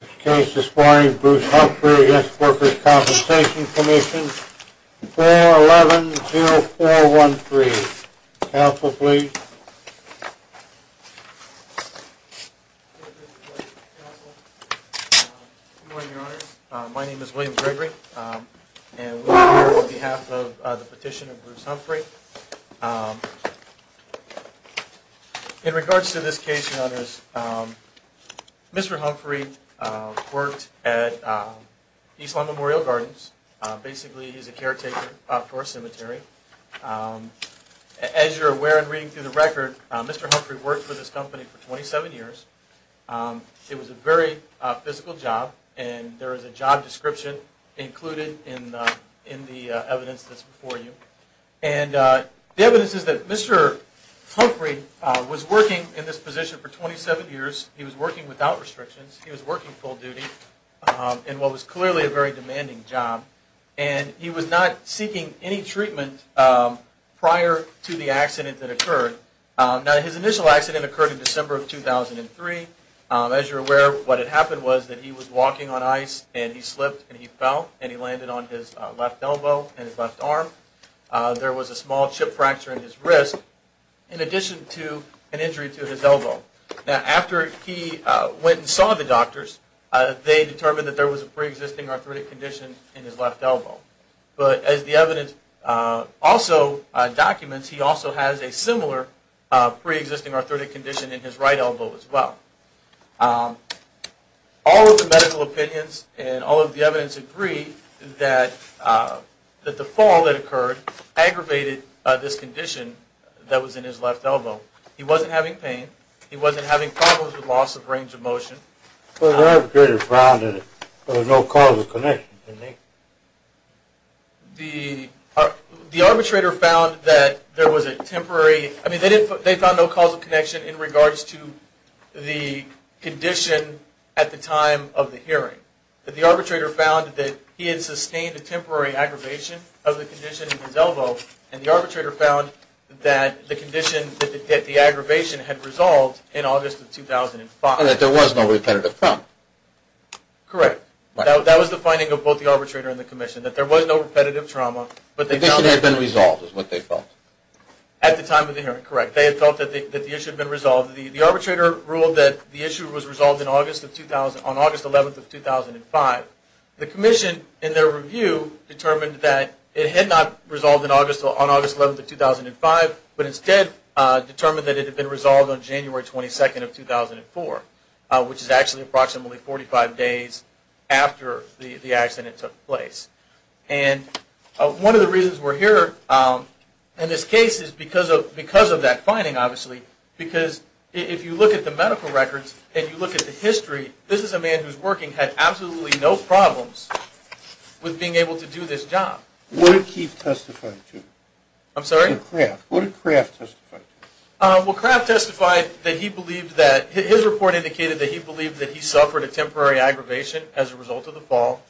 This case is for Bruce Humphrey v. Workers' Compensation Comm'n, 411-0413. Counsel, please. Good morning, Your Honor. My name is William Gregory, and we're here on behalf of the petition of Bruce Humphrey. In regards to this case, Your Honors, Mr. Humphrey worked at Eastlawn Memorial Gardens. Basically, he's a caretaker for a cemetery. As you're aware in reading through the record, Mr. Humphrey worked for this company for 27 years. It was a very physical job, and there is a job description included in the evidence that's before you. And the evidence is that Mr. Humphrey was working in this position for 27 years. He was working without restrictions. He was working full duty in what was clearly a very demanding job. And he was not seeking any treatment prior to the accident that occurred. Now, his initial accident occurred in December of 2003. As you're aware, what had happened was that he was walking on ice, and he slipped and he fell, and he landed on his left elbow and his left arm. There was a small chip fracture in his wrist in addition to an injury to his elbow. Now, after he went and saw the doctors, they determined that there was a pre-existing arthritic condition in his left elbow. But as the evidence also documents, he also has a similar pre-existing arthritic condition in his right elbow as well. All of the medical opinions and all of the evidence agree that the fall that occurred aggravated this condition that was in his left elbow. He wasn't having pain. He wasn't having problems with loss of range of motion. Well, the arbitrator found that there was no causal connection, didn't he? The arbitrator found that there was a temporary... I mean, they found no causal connection in regards to the condition at the time of the hearing. The arbitrator found that he had sustained a temporary aggravation of the condition in his elbow, and the arbitrator found that the condition, that the aggravation had resolved in August of 2005. And that there was no repetitive trauma. Correct. That was the finding of both the arbitrator and the commission, that there was no repetitive trauma, but they found... The condition had been resolved is what they felt. At the time of the hearing, correct. They had felt that the issue had been resolved. The arbitrator ruled that the issue was resolved on August 11, 2005. The commission, in their review, determined that it had not resolved on August 11, 2005, but instead determined that it had been resolved on January 22, 2004, which is actually approximately 45 days after the accident took place. And one of the reasons we're here in this case is because of that finding, obviously, because if you look at the medical records and you look at the history, this is a man who's working, had absolutely no problems with being able to do this job. What did Keefe testify to? I'm sorry? Kraft. What did Kraft testify to? Well, Kraft testified that he believed that, his report indicated that he believed that he suffered a temporary aggravation as a result of the fall.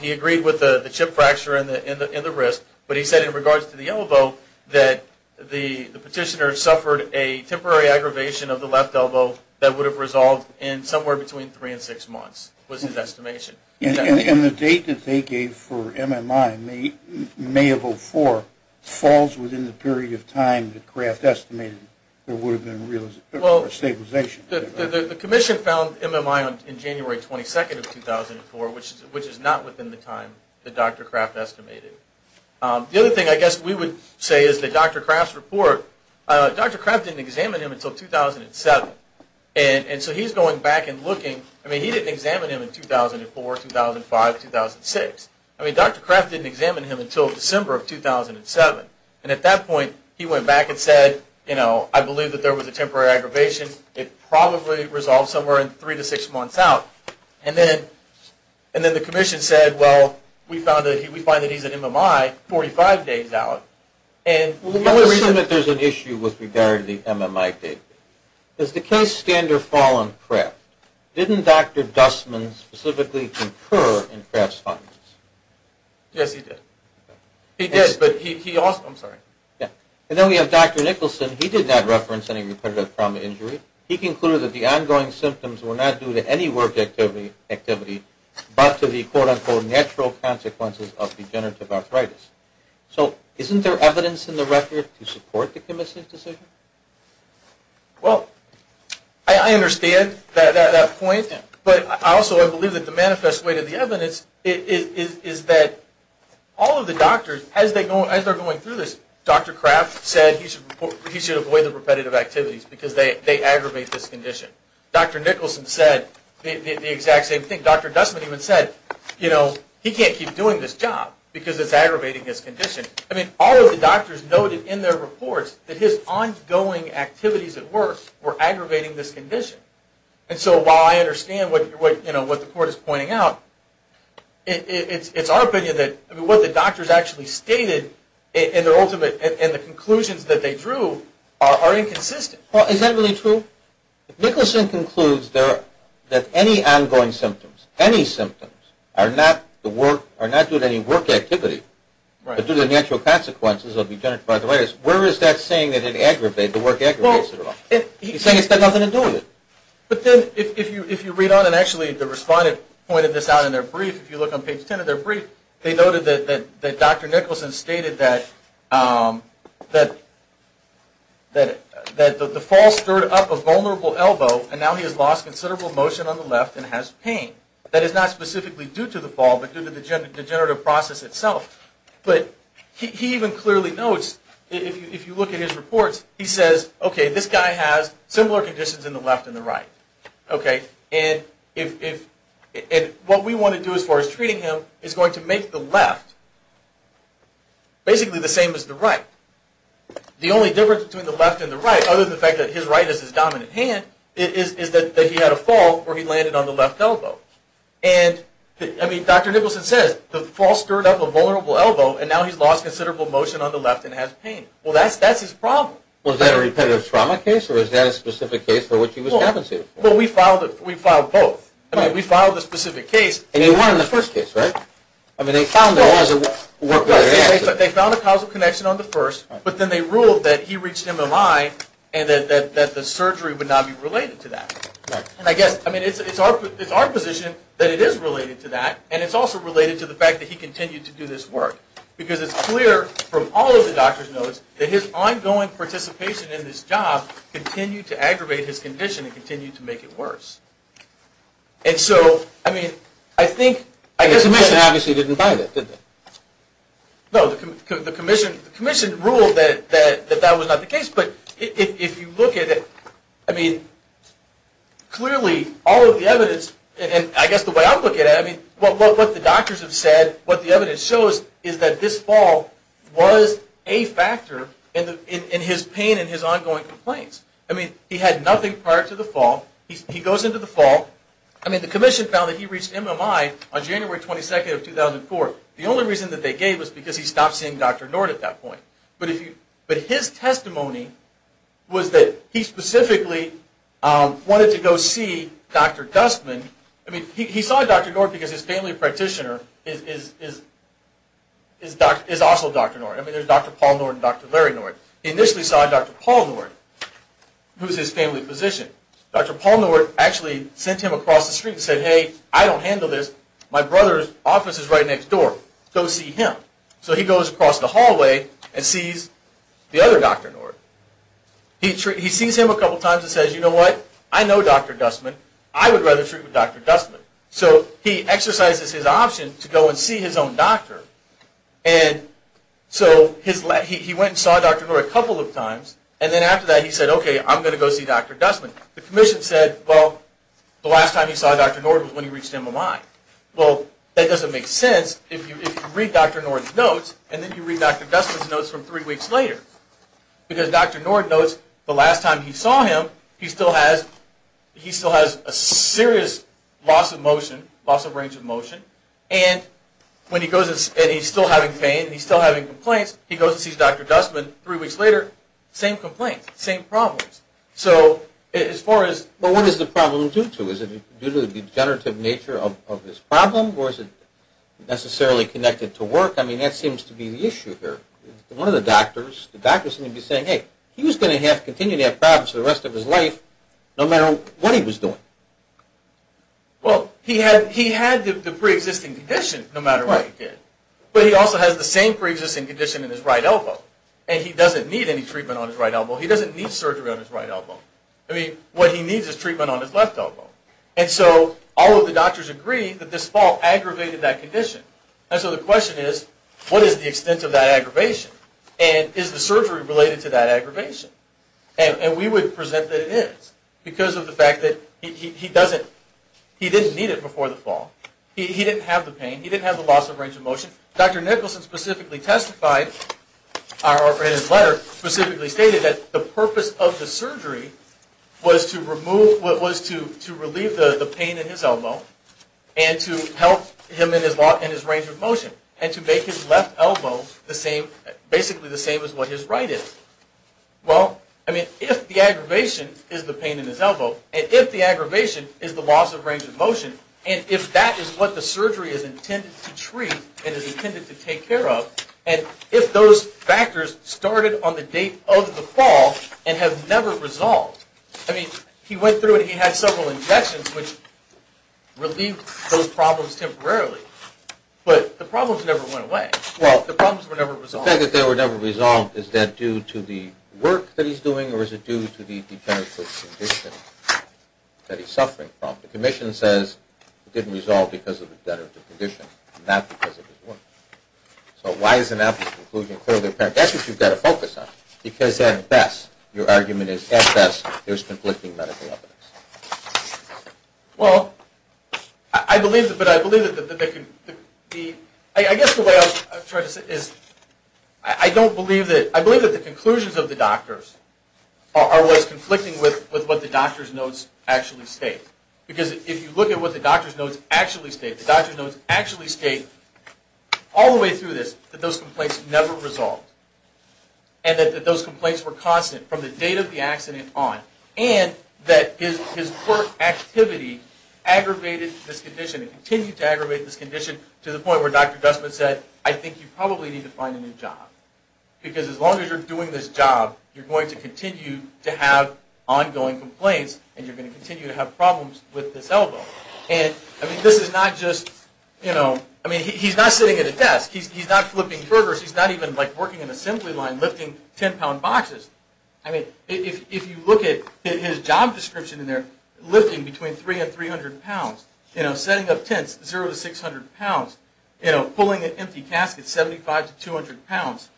He agreed with the chip fracture in the wrist, but he said in regards to the elbow, that the petitioner suffered a temporary aggravation of the left elbow that would have resolved in somewhere between three and six months, was his estimation. And the date that they gave for MMI, May of 2004, falls within the period of time that Kraft estimated there would have been stabilization. The commission found MMI on January 22, 2004, which is not within the time that Dr. Kraft estimated. The other thing I guess we would say is that Dr. Kraft's report, Dr. Kraft didn't examine him until 2007. And so he's going back and looking, I mean, he didn't examine him in 2004, 2005, 2006. I mean, Dr. Kraft didn't examine him until December of 2007. And at that point, he went back and said, you know, I believe that there was a temporary aggravation. It probably resolved somewhere in three to six months out. And then the commission said, well, we find that he's at MMI 45 days out. Well, the only reason that there's an issue with regard to the MMI date is the case standard fall on Kraft. Didn't Dr. Dustman specifically concur in Kraft's findings? Yes, he did. He did, but he also – I'm sorry. And then we have Dr. Nicholson. He did not reference any repetitive trauma injury. He concluded that the ongoing symptoms were not due to any work activity, but to the quote-unquote natural consequences of degenerative arthritis. So isn't there evidence in the record to support the commission's decision? Well, I understand that point, but also I believe that the manifest way to the evidence is that all of the doctors, as they're going through this, Dr. Kraft said he should avoid the repetitive activities because they aggravate this condition. Dr. Nicholson said the exact same thing. Dr. Dustman even said he can't keep doing this job because it's aggravating his condition. I mean, all of the doctors noted in their reports that his ongoing activities at work were aggravating this condition. And so while I understand what the court is pointing out, it's our opinion that what the doctors actually stated in their ultimate – in the conclusions that they drew are inconsistent. Well, is that really true? If Nicholson concludes that any ongoing symptoms, any symptoms, are not due to any work activity, but due to the natural consequences of degenerative arthritis, where is that saying that it aggravated, the work aggravates it at all? He's saying it's got nothing to do with it. But then if you read on, and actually the respondent pointed this out in their brief, if you look on page 10 of their brief, they noted that Dr. Nicholson stated that the fall stirred up a vulnerable elbow, and now he has lost considerable motion on the left and has pain. That is not specifically due to the fall, but due to the degenerative process itself. But he even clearly notes, if you look at his reports, he says, okay, this guy has similar conditions in the left and the right. And what we want to do as far as treating him is going to make the left basically the same as the right. The only difference between the left and the right, other than the fact that his right is his dominant hand, is that he had a fall where he landed on the left elbow. And, I mean, Dr. Nicholson says the fall stirred up a vulnerable elbow, and now he's lost considerable motion on the left and has pain. Well, that's his problem. Was that a repetitive trauma case, or was that a specific case for which he was captive? Well, we filed both. I mean, we filed a specific case. And he won in the first case, right? I mean, they found there was a work with their hands. They found a causal connection on the first, but then they ruled that he reached an MMI and that the surgery would not be related to that. And I guess, I mean, it's our position that it is related to that, and it's also related to the fact that he continued to do this work. Because it's clear from all of the doctor's notes that his ongoing participation in this job continued to aggravate his condition and continued to make it worse. And so, I mean, I think... The commission obviously didn't buy that, did they? No, the commission ruled that that was not the case. But if you look at it, I mean, clearly, all of the evidence, and I guess the way I look at it, I mean, what the doctors have said, what the evidence shows is that this fall was a factor in his pain and his ongoing complaints. I mean, he had nothing prior to the fall. He goes into the fall. I mean, the commission found that he reached MMI on January 22nd of 2004. The only reason that they gave was because he stopped seeing Dr. Nord at that point. But his testimony was that he specifically wanted to go see Dr. Dustman. I mean, he saw Dr. Nord because his family practitioner is also Dr. Nord. I mean, there's Dr. Paul Nord and Dr. Larry Nord. He initially saw Dr. Paul Nord, who's his family physician. Dr. Paul Nord actually sent him across the street and said, hey, I don't handle this. My brother's office is right next door. Go see him. So he goes across the hallway and sees the other Dr. Nord. He sees him a couple times and says, you know what? I know Dr. Dustman. I would rather treat with Dr. Dustman. So he exercises his option to go and see his own doctor. And so he went and saw Dr. Nord a couple of times. And then after that he said, okay, I'm going to go see Dr. Dustman. The commission said, well, the last time he saw Dr. Nord was when he reached MMI. Well, that doesn't make sense if you read Dr. Nord's notes and then you read Dr. Dustman's notes from three weeks later. Because Dr. Nord notes the last time he saw him, he still has a serious loss of motion, loss of range of motion. And when he goes and he's still having pain, he's still having complaints, he goes and sees Dr. Dustman three weeks later, same complaints, same problems. So as far as... Well, what is the problem due to? Is it due to the degenerative nature of his problem or is it necessarily connected to work? I mean, that seems to be the issue here. One of the doctors, the doctor is going to be saying, hey, he was going to have to continue to have problems for the rest of his life no matter what he was doing. Well, he had the preexisting condition no matter what he did. But he also has the same preexisting condition in his right elbow. And he doesn't need any treatment on his right elbow. He doesn't need surgery on his right elbow. I mean, what he needs is treatment on his left elbow. And so all of the doctors agree that this fall aggravated that condition. And so the question is, what is the extent of that aggravation? And is the surgery related to that aggravation? And we would present that it is because of the fact that he doesn't... he didn't need it before the fall. He didn't have the pain. He didn't have the loss of range of motion. Dr. Nicholson specifically testified, or in his letter, specifically stated that the purpose of the surgery was to remove... was to relieve the pain in his elbow and to help him in his range of motion and to make his left elbow basically the same as what his right is. Well, I mean, if the aggravation is the pain in his elbow, and if the aggravation is the loss of range of motion, and if that is what the surgery is intended to treat and is intended to take care of, and if those factors started on the date of the fall and have never resolved... I mean, he went through and he had several injections, which relieved those problems temporarily. But the problems never went away. The problems were never resolved. The fact that they were never resolved, is that due to the work that he's doing or is it due to the degenerative condition that he's suffering from? The commission says it didn't resolve because of the degenerative condition, not because of his work. So why is an applicant's conclusion clearly apparent? That's what you've got to focus on, because at best, your argument is, at best, there's conflicting medical evidence. Well, I believe that they can be... I guess the way I was trying to say this is, I don't believe that... I believe that the conclusions of the doctors are what's conflicting with what the doctor's notes actually state. Because if you look at what the doctor's notes actually state, the doctor's notes actually state, all the way through this, that those complaints never resolved and that those complaints were constant from the date of the accident on and that his work activity aggravated this condition and continued to aggravate this condition to the point where Dr. Guzman said, I think you probably need to find a new job. Because as long as you're doing this job, you're going to continue to have ongoing complaints and you're going to continue to have problems with this elbow. And, I mean, this is not just... I mean, he's not sitting at a desk. He's not flipping burgers. He's not even working an assembly line lifting 10-pound boxes. I mean, if you look at his job description in there, lifting between 300 and 300 pounds, setting up tents, 0 to 600 pounds, pulling an empty casket, 75 to 200 pounds,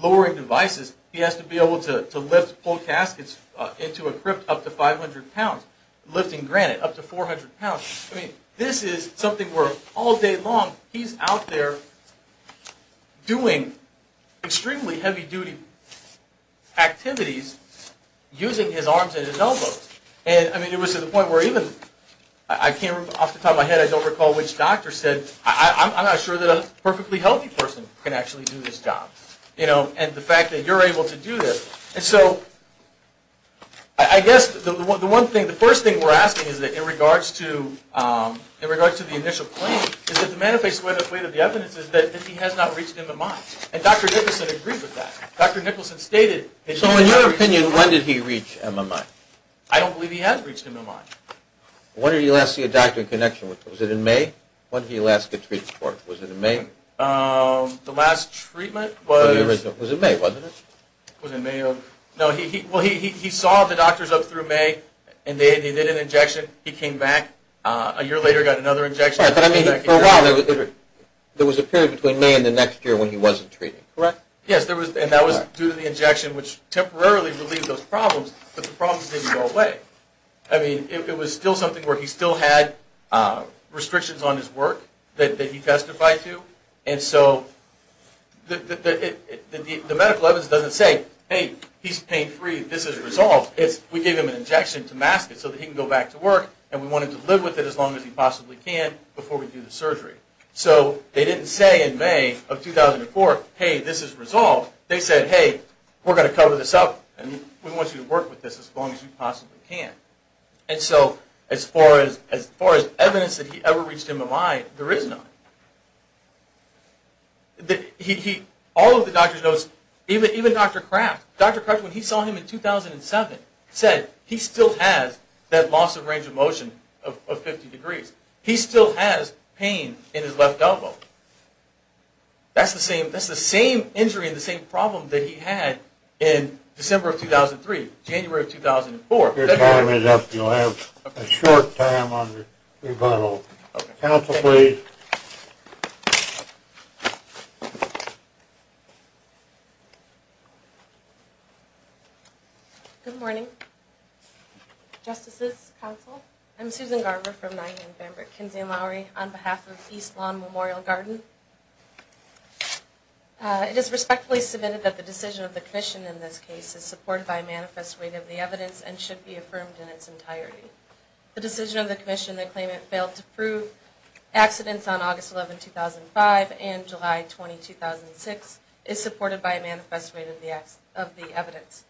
lowering devices, he has to be able to lift full caskets into a crypt up to 500 pounds, lifting granite up to 400 pounds. I mean, this is something where, all day long, he's out there doing extremely heavy-duty activities using his arms and his elbows. And, I mean, it was to the point where even... Off the top of my head, I don't recall which doctor said, I'm not sure that a perfectly healthy person can actually do this job. You know, and the fact that you're able to do this. And so, I guess the first thing we're asking is that, in regards to the initial claim, is that the manifest way that the evidence is that he has not reached MMI. And Dr. Nicholson agrees with that. Dr. Nicholson stated that he has not reached MMI. So, in your opinion, when did he reach MMI? I don't believe he has reached MMI. When did he last see a doctor in connection with him? Was it in May? When did he last get treated for it? Was it in May? The last treatment was... It was in May, wasn't it? It was in May of... Well, he saw the doctors up through May, and they did an injection. He came back. A year later, got another injection. I'm sorry, but I mean, for a while, there was a period between May and the next year when he wasn't treated, correct? Yes, and that was due to the injection, which temporarily relieved those problems, but the problems didn't go away. I mean, it was still something where he still had restrictions on his work that he testified to. And so, the medical evidence doesn't say, hey, he's pain-free, this is resolved. We gave him an injection to mask it so that he can go back to work, and we want him to live with it as long as he possibly can before we do the surgery. So, they didn't say in May of 2004, hey, this is resolved. They said, hey, we're going to cover this up, and we want you to work with this as long as you possibly can. And so, as far as evidence that he ever reached MMI, there is none. All of the doctors knows, even Dr. Kraft. Dr. Kraft, when he saw him in 2007, said he still has that loss of range of motion of 50 degrees. He still has pain in his left elbow. That's the same injury and the same problem that he had in December of 2003, January of 2004. Your time is up. You'll have a short time on the rebuttal. Counsel, please. Thank you. Good morning. Justices, counsel, I'm Susan Garber from Nyingen, Pembroke, Kinsey, and Lowery on behalf of East Lawn Memorial Garden. It is respectfully submitted that the decision of the commission in this case is supported by a manifest weight of the evidence and should be affirmed in its entirety. The decision of the commission that claimant failed to prove accidents on August 11, 2005, and July 20, 2006, is supported by a manifest weight of the evidence.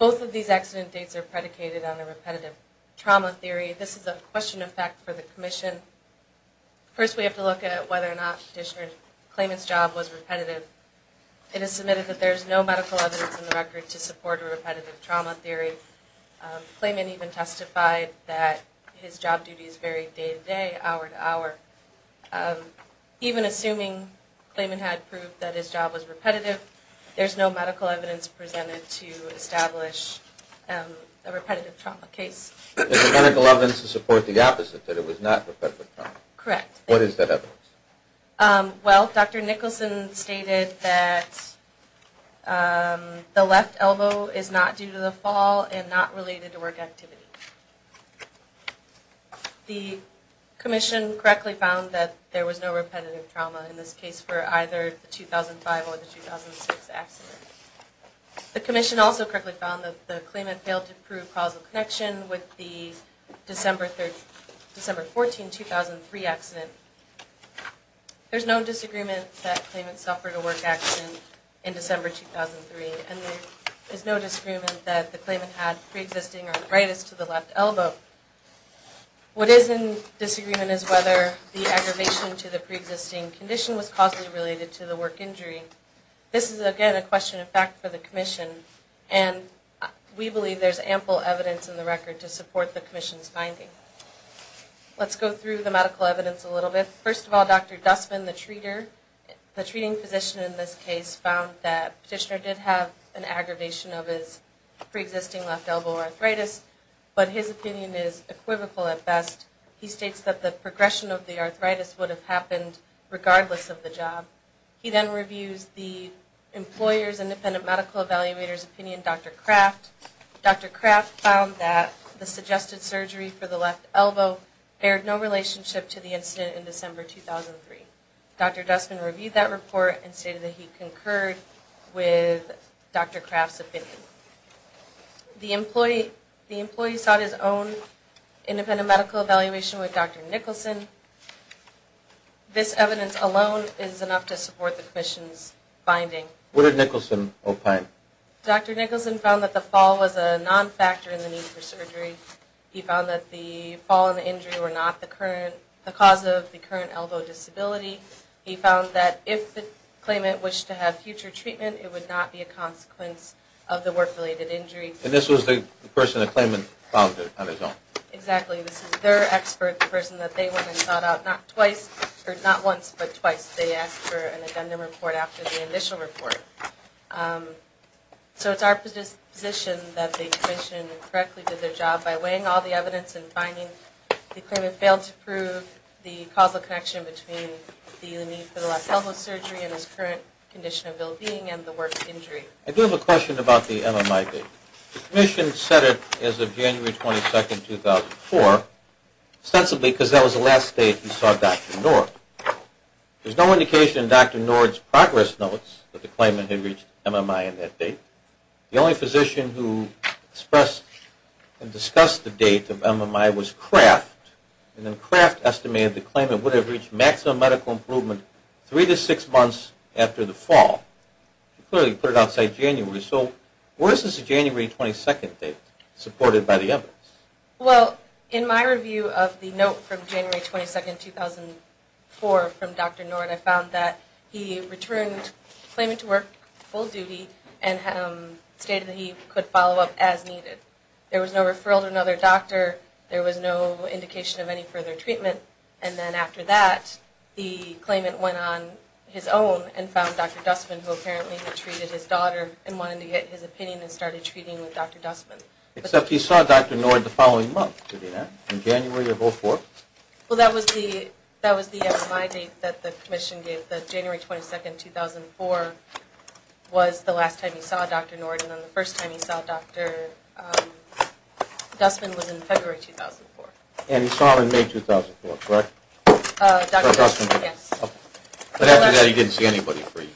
Both of these accident dates are predicated on a repetitive trauma theory. This is a question of fact for the commission. First, we have to look at whether or not the petitioner's claimant's job was repetitive. It is submitted that there is no medical evidence in the record to support a repetitive trauma theory. The claimant even testified that his job duties varied day to day, hour to hour. Even assuming the claimant had proved that his job was repetitive, there's no medical evidence presented to establish a repetitive trauma case. There's no medical evidence to support the opposite, that it was not repetitive trauma. Correct. What is that evidence? Well, Dr. Nicholson stated that the left elbow is not due to the fall and not related to work activity. The commission correctly found that there was no repetitive trauma in this case for either the 2005 or the 2006 accident. The commission also correctly found that the claimant failed to prove causal connection with the December 14, 2003 accident. There's no disagreement that claimant suffered a work accident in December 2003, and there's no disagreement that the claimant had pre-existing arthritis to the left elbow. What is in disagreement is whether the aggravation to the pre-existing condition was causally related to the work injury. This is, again, a question of fact for the commission, and we believe there's ample evidence in the record to support the commission's finding. Let's go through the medical evidence a little bit. First of all, Dr. Dussman, the treating physician in this case, found that Petitioner did have an aggravation of his pre-existing left elbow arthritis, but his opinion is equivocal at best. He states that the progression of the arthritis would have happened regardless of the job. He then reviews the employer's independent medical evaluator's opinion, Dr. Kraft. Dr. Kraft found that the suggested surgery for the left elbow bared no relationship to the incident in December 2003. Dr. Dussman reviewed that report and stated that he concurred with Dr. Kraft's opinion. The employee sought his own independent medical evaluation with Dr. Nicholson. This evidence alone is enough to support the commission's finding. What did Nicholson opine? Dr. Nicholson found that the fall was a non-factor in the need for surgery. He found that the fall and the injury were not the cause of the current elbow disability. He found that if the claimant wished to have future treatment, it would not be a consequence of the work-related injury. And this was the person the claimant found on his own? Exactly. This is their expert, the person that they went and sought out not once but twice. They asked for an addendum report after the initial report. So it's our position that the commission correctly did their job by weighing all the evidence and finding the claimant failed to prove the causal connection between the need for the left elbow surgery and his current condition of well-being and the work injury. I do have a question about the MMIB. The commission set it as of January 22, 2004, ostensibly because that was the last date we saw Dr. Nord. There's no indication in Dr. Nord's progress notes that the claimant had reached MMI in that date. The only physician who expressed and discussed the date of MMI was Kraft, and then Kraft estimated the claimant would have reached maximum medical improvement three to six months after the fall. Clearly, he put it outside January. So where is this January 22 date supported by the evidence? Well, in my review of the note from January 22, 2004 from Dr. Nord, I found that he returned claiming to work full duty and stated that he could follow up as needed. There was no referral to another doctor. There was no indication of any further treatment. And then after that, the claimant went on his own and found Dr. Dussman, who apparently had treated his daughter and wanted to get his opinion and started treating with Dr. Dussman. Except he saw Dr. Nord the following month, did he not? In January of 2004? Well, that was the MMI date that the commission gave. The January 22, 2004 was the last time he saw Dr. Nord, and the first time he saw Dr. Dussman was in February 2004. And he saw her in May 2004, correct? Dr. Dussman, yes. But after that, he didn't see anybody for you.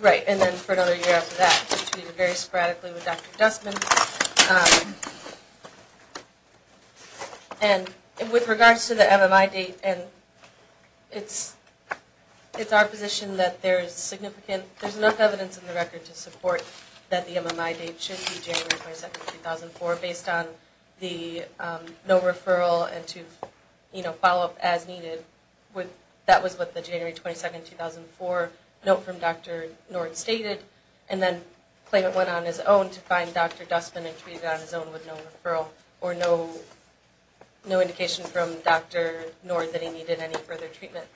Right, and then for another year after that, he treated very sporadically with Dr. Dussman. And with regards to the MMI date, it's our position that there's enough evidence in the record to support that the MMI date should be January 22, 2004 based on the no referral and to follow up as needed. That was what the January 22, 2004 note from Dr. Nord stated. And then the claimant went on his own to find Dr. Dussman and treated on his own with no referral or no indication from Dr. Nord that he needed any further treatment.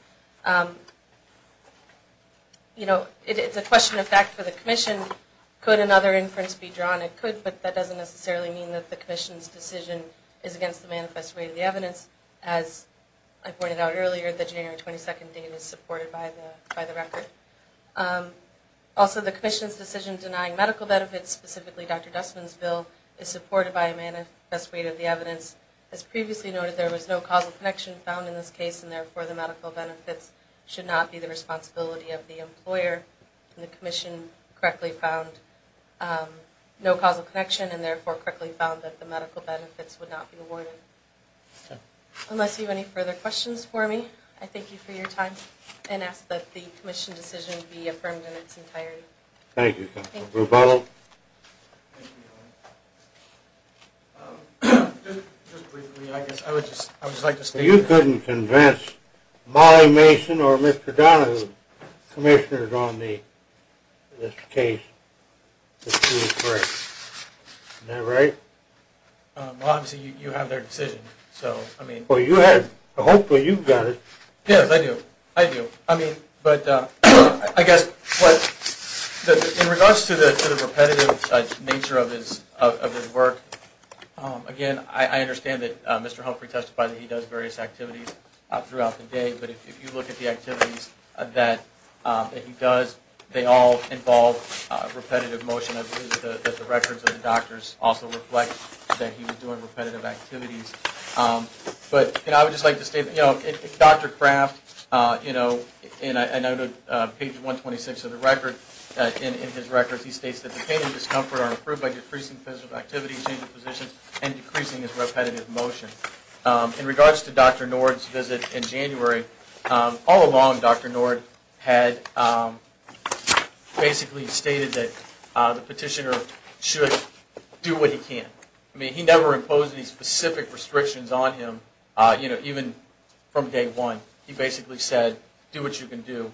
It's a question of fact for the commission. Could another inference be drawn? It could, but that doesn't necessarily mean that the commission's decision is against the manifest rate of the evidence. As I pointed out earlier, the January 22 date is supported by the record. Also, the commission's decision denying medical benefits, specifically Dr. Dussman's bill, is supported by a manifest rate of the evidence. As previously noted, there was no causal connection found in this case, and therefore the medical benefits should not be the responsibility of the employer. And the commission correctly found no causal connection and therefore correctly found that the medical benefits would not be awarded. Unless you have any further questions for me, I thank you for your time and ask that the commission's decision be affirmed in its entirety. Thank you, Counselor. Rebuttal. Just briefly, I guess I would just like to state that. Well, you couldn't convince Molly Mason or Mr. Donahue, commissioners on this case, that she was correct. Isn't that right? Well, obviously you have their decision, so I mean. Well, you had it. Hopefully you've got it. Yes, I do. I do. I mean, but I guess in regards to the repetitive nature of his work, again, I understand that Mr. Humphrey testified that he does various activities throughout the day, but if you look at the activities that he does, they all involve repetitive motion. I believe that the records of the doctors also reflect that he was doing repetitive activities. But, you know, I would just like to state, you know, Dr. Kraft, you know, and I noted page 126 of the record, in his records he states that the pain and discomfort are improved by decreasing physical activity, changing positions, and decreasing his repetitive motion. In regards to Dr. Nord's visit in January, all along Dr. Nord had basically stated that the petitioner should do what he can. I mean, he never imposed any specific restrictions on him, you know, even from day one. He basically said, do what you can do.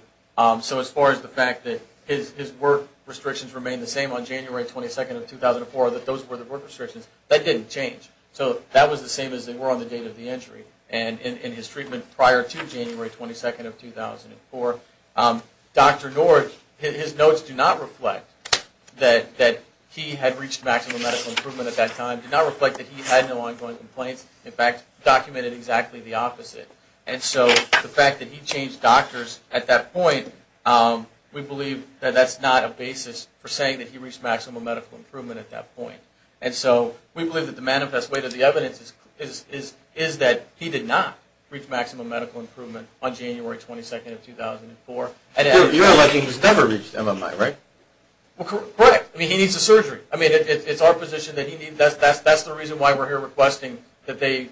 So as far as the fact that his work restrictions remained the same on January 22nd of 2004, that those were the work restrictions, that didn't change. So that was the same as they were on the date of the injury. And in his treatment prior to January 22nd of 2004, Dr. Nord, his notes do not reflect that he had reached maximum medical improvement at that time. It did not reflect that he had no ongoing complaints. In fact, it documented exactly the opposite. And so the fact that he changed doctors at that point, we believe that that's not a basis for saying that he reached maximum medical improvement at that point. And so we believe that the manifest way to the evidence is that he did not reach maximum medical improvement on January 22nd of 2004. You're alleging he's never reached MMI, right? Correct. I mean, he needs a surgery. I mean, it's our position that he needs that. That's the reason why we're here requesting that they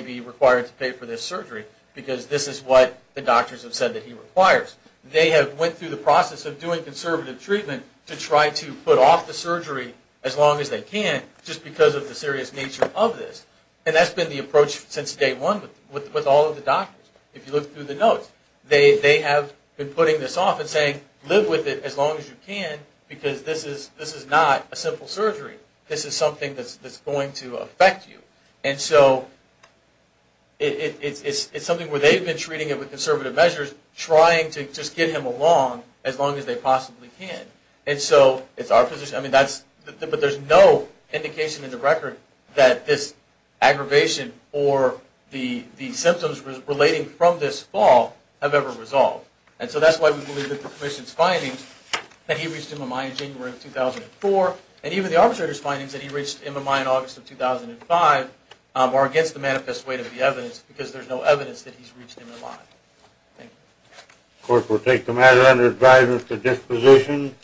be required to pay for this surgery, because this is what the doctors have said that he requires. They have went through the process of doing conservative treatment to try to put off the surgery as long as they can, just because of the serious nature of this. And that's been the approach since day one with all of the doctors. If you look through the notes, they have been putting this off and saying, live with it as long as you can, because this is not a simple surgery. This is something that's going to affect you. And so it's something where they've been treating it with conservative measures, trying to just get him along as long as they possibly can. And so it's our position. But there's no indication in the record that this aggravation or the symptoms relating from this fall have ever resolved. And so that's why we believe that the commission's finding that he reached MMI in January of 2004, and even the arbitrator's findings that he reached MMI in August of 2005, are against the manifest weight of the evidence, because there's no evidence that he's reached MMI. Thank you. Of course, we'll take the matter under advisory to disposition.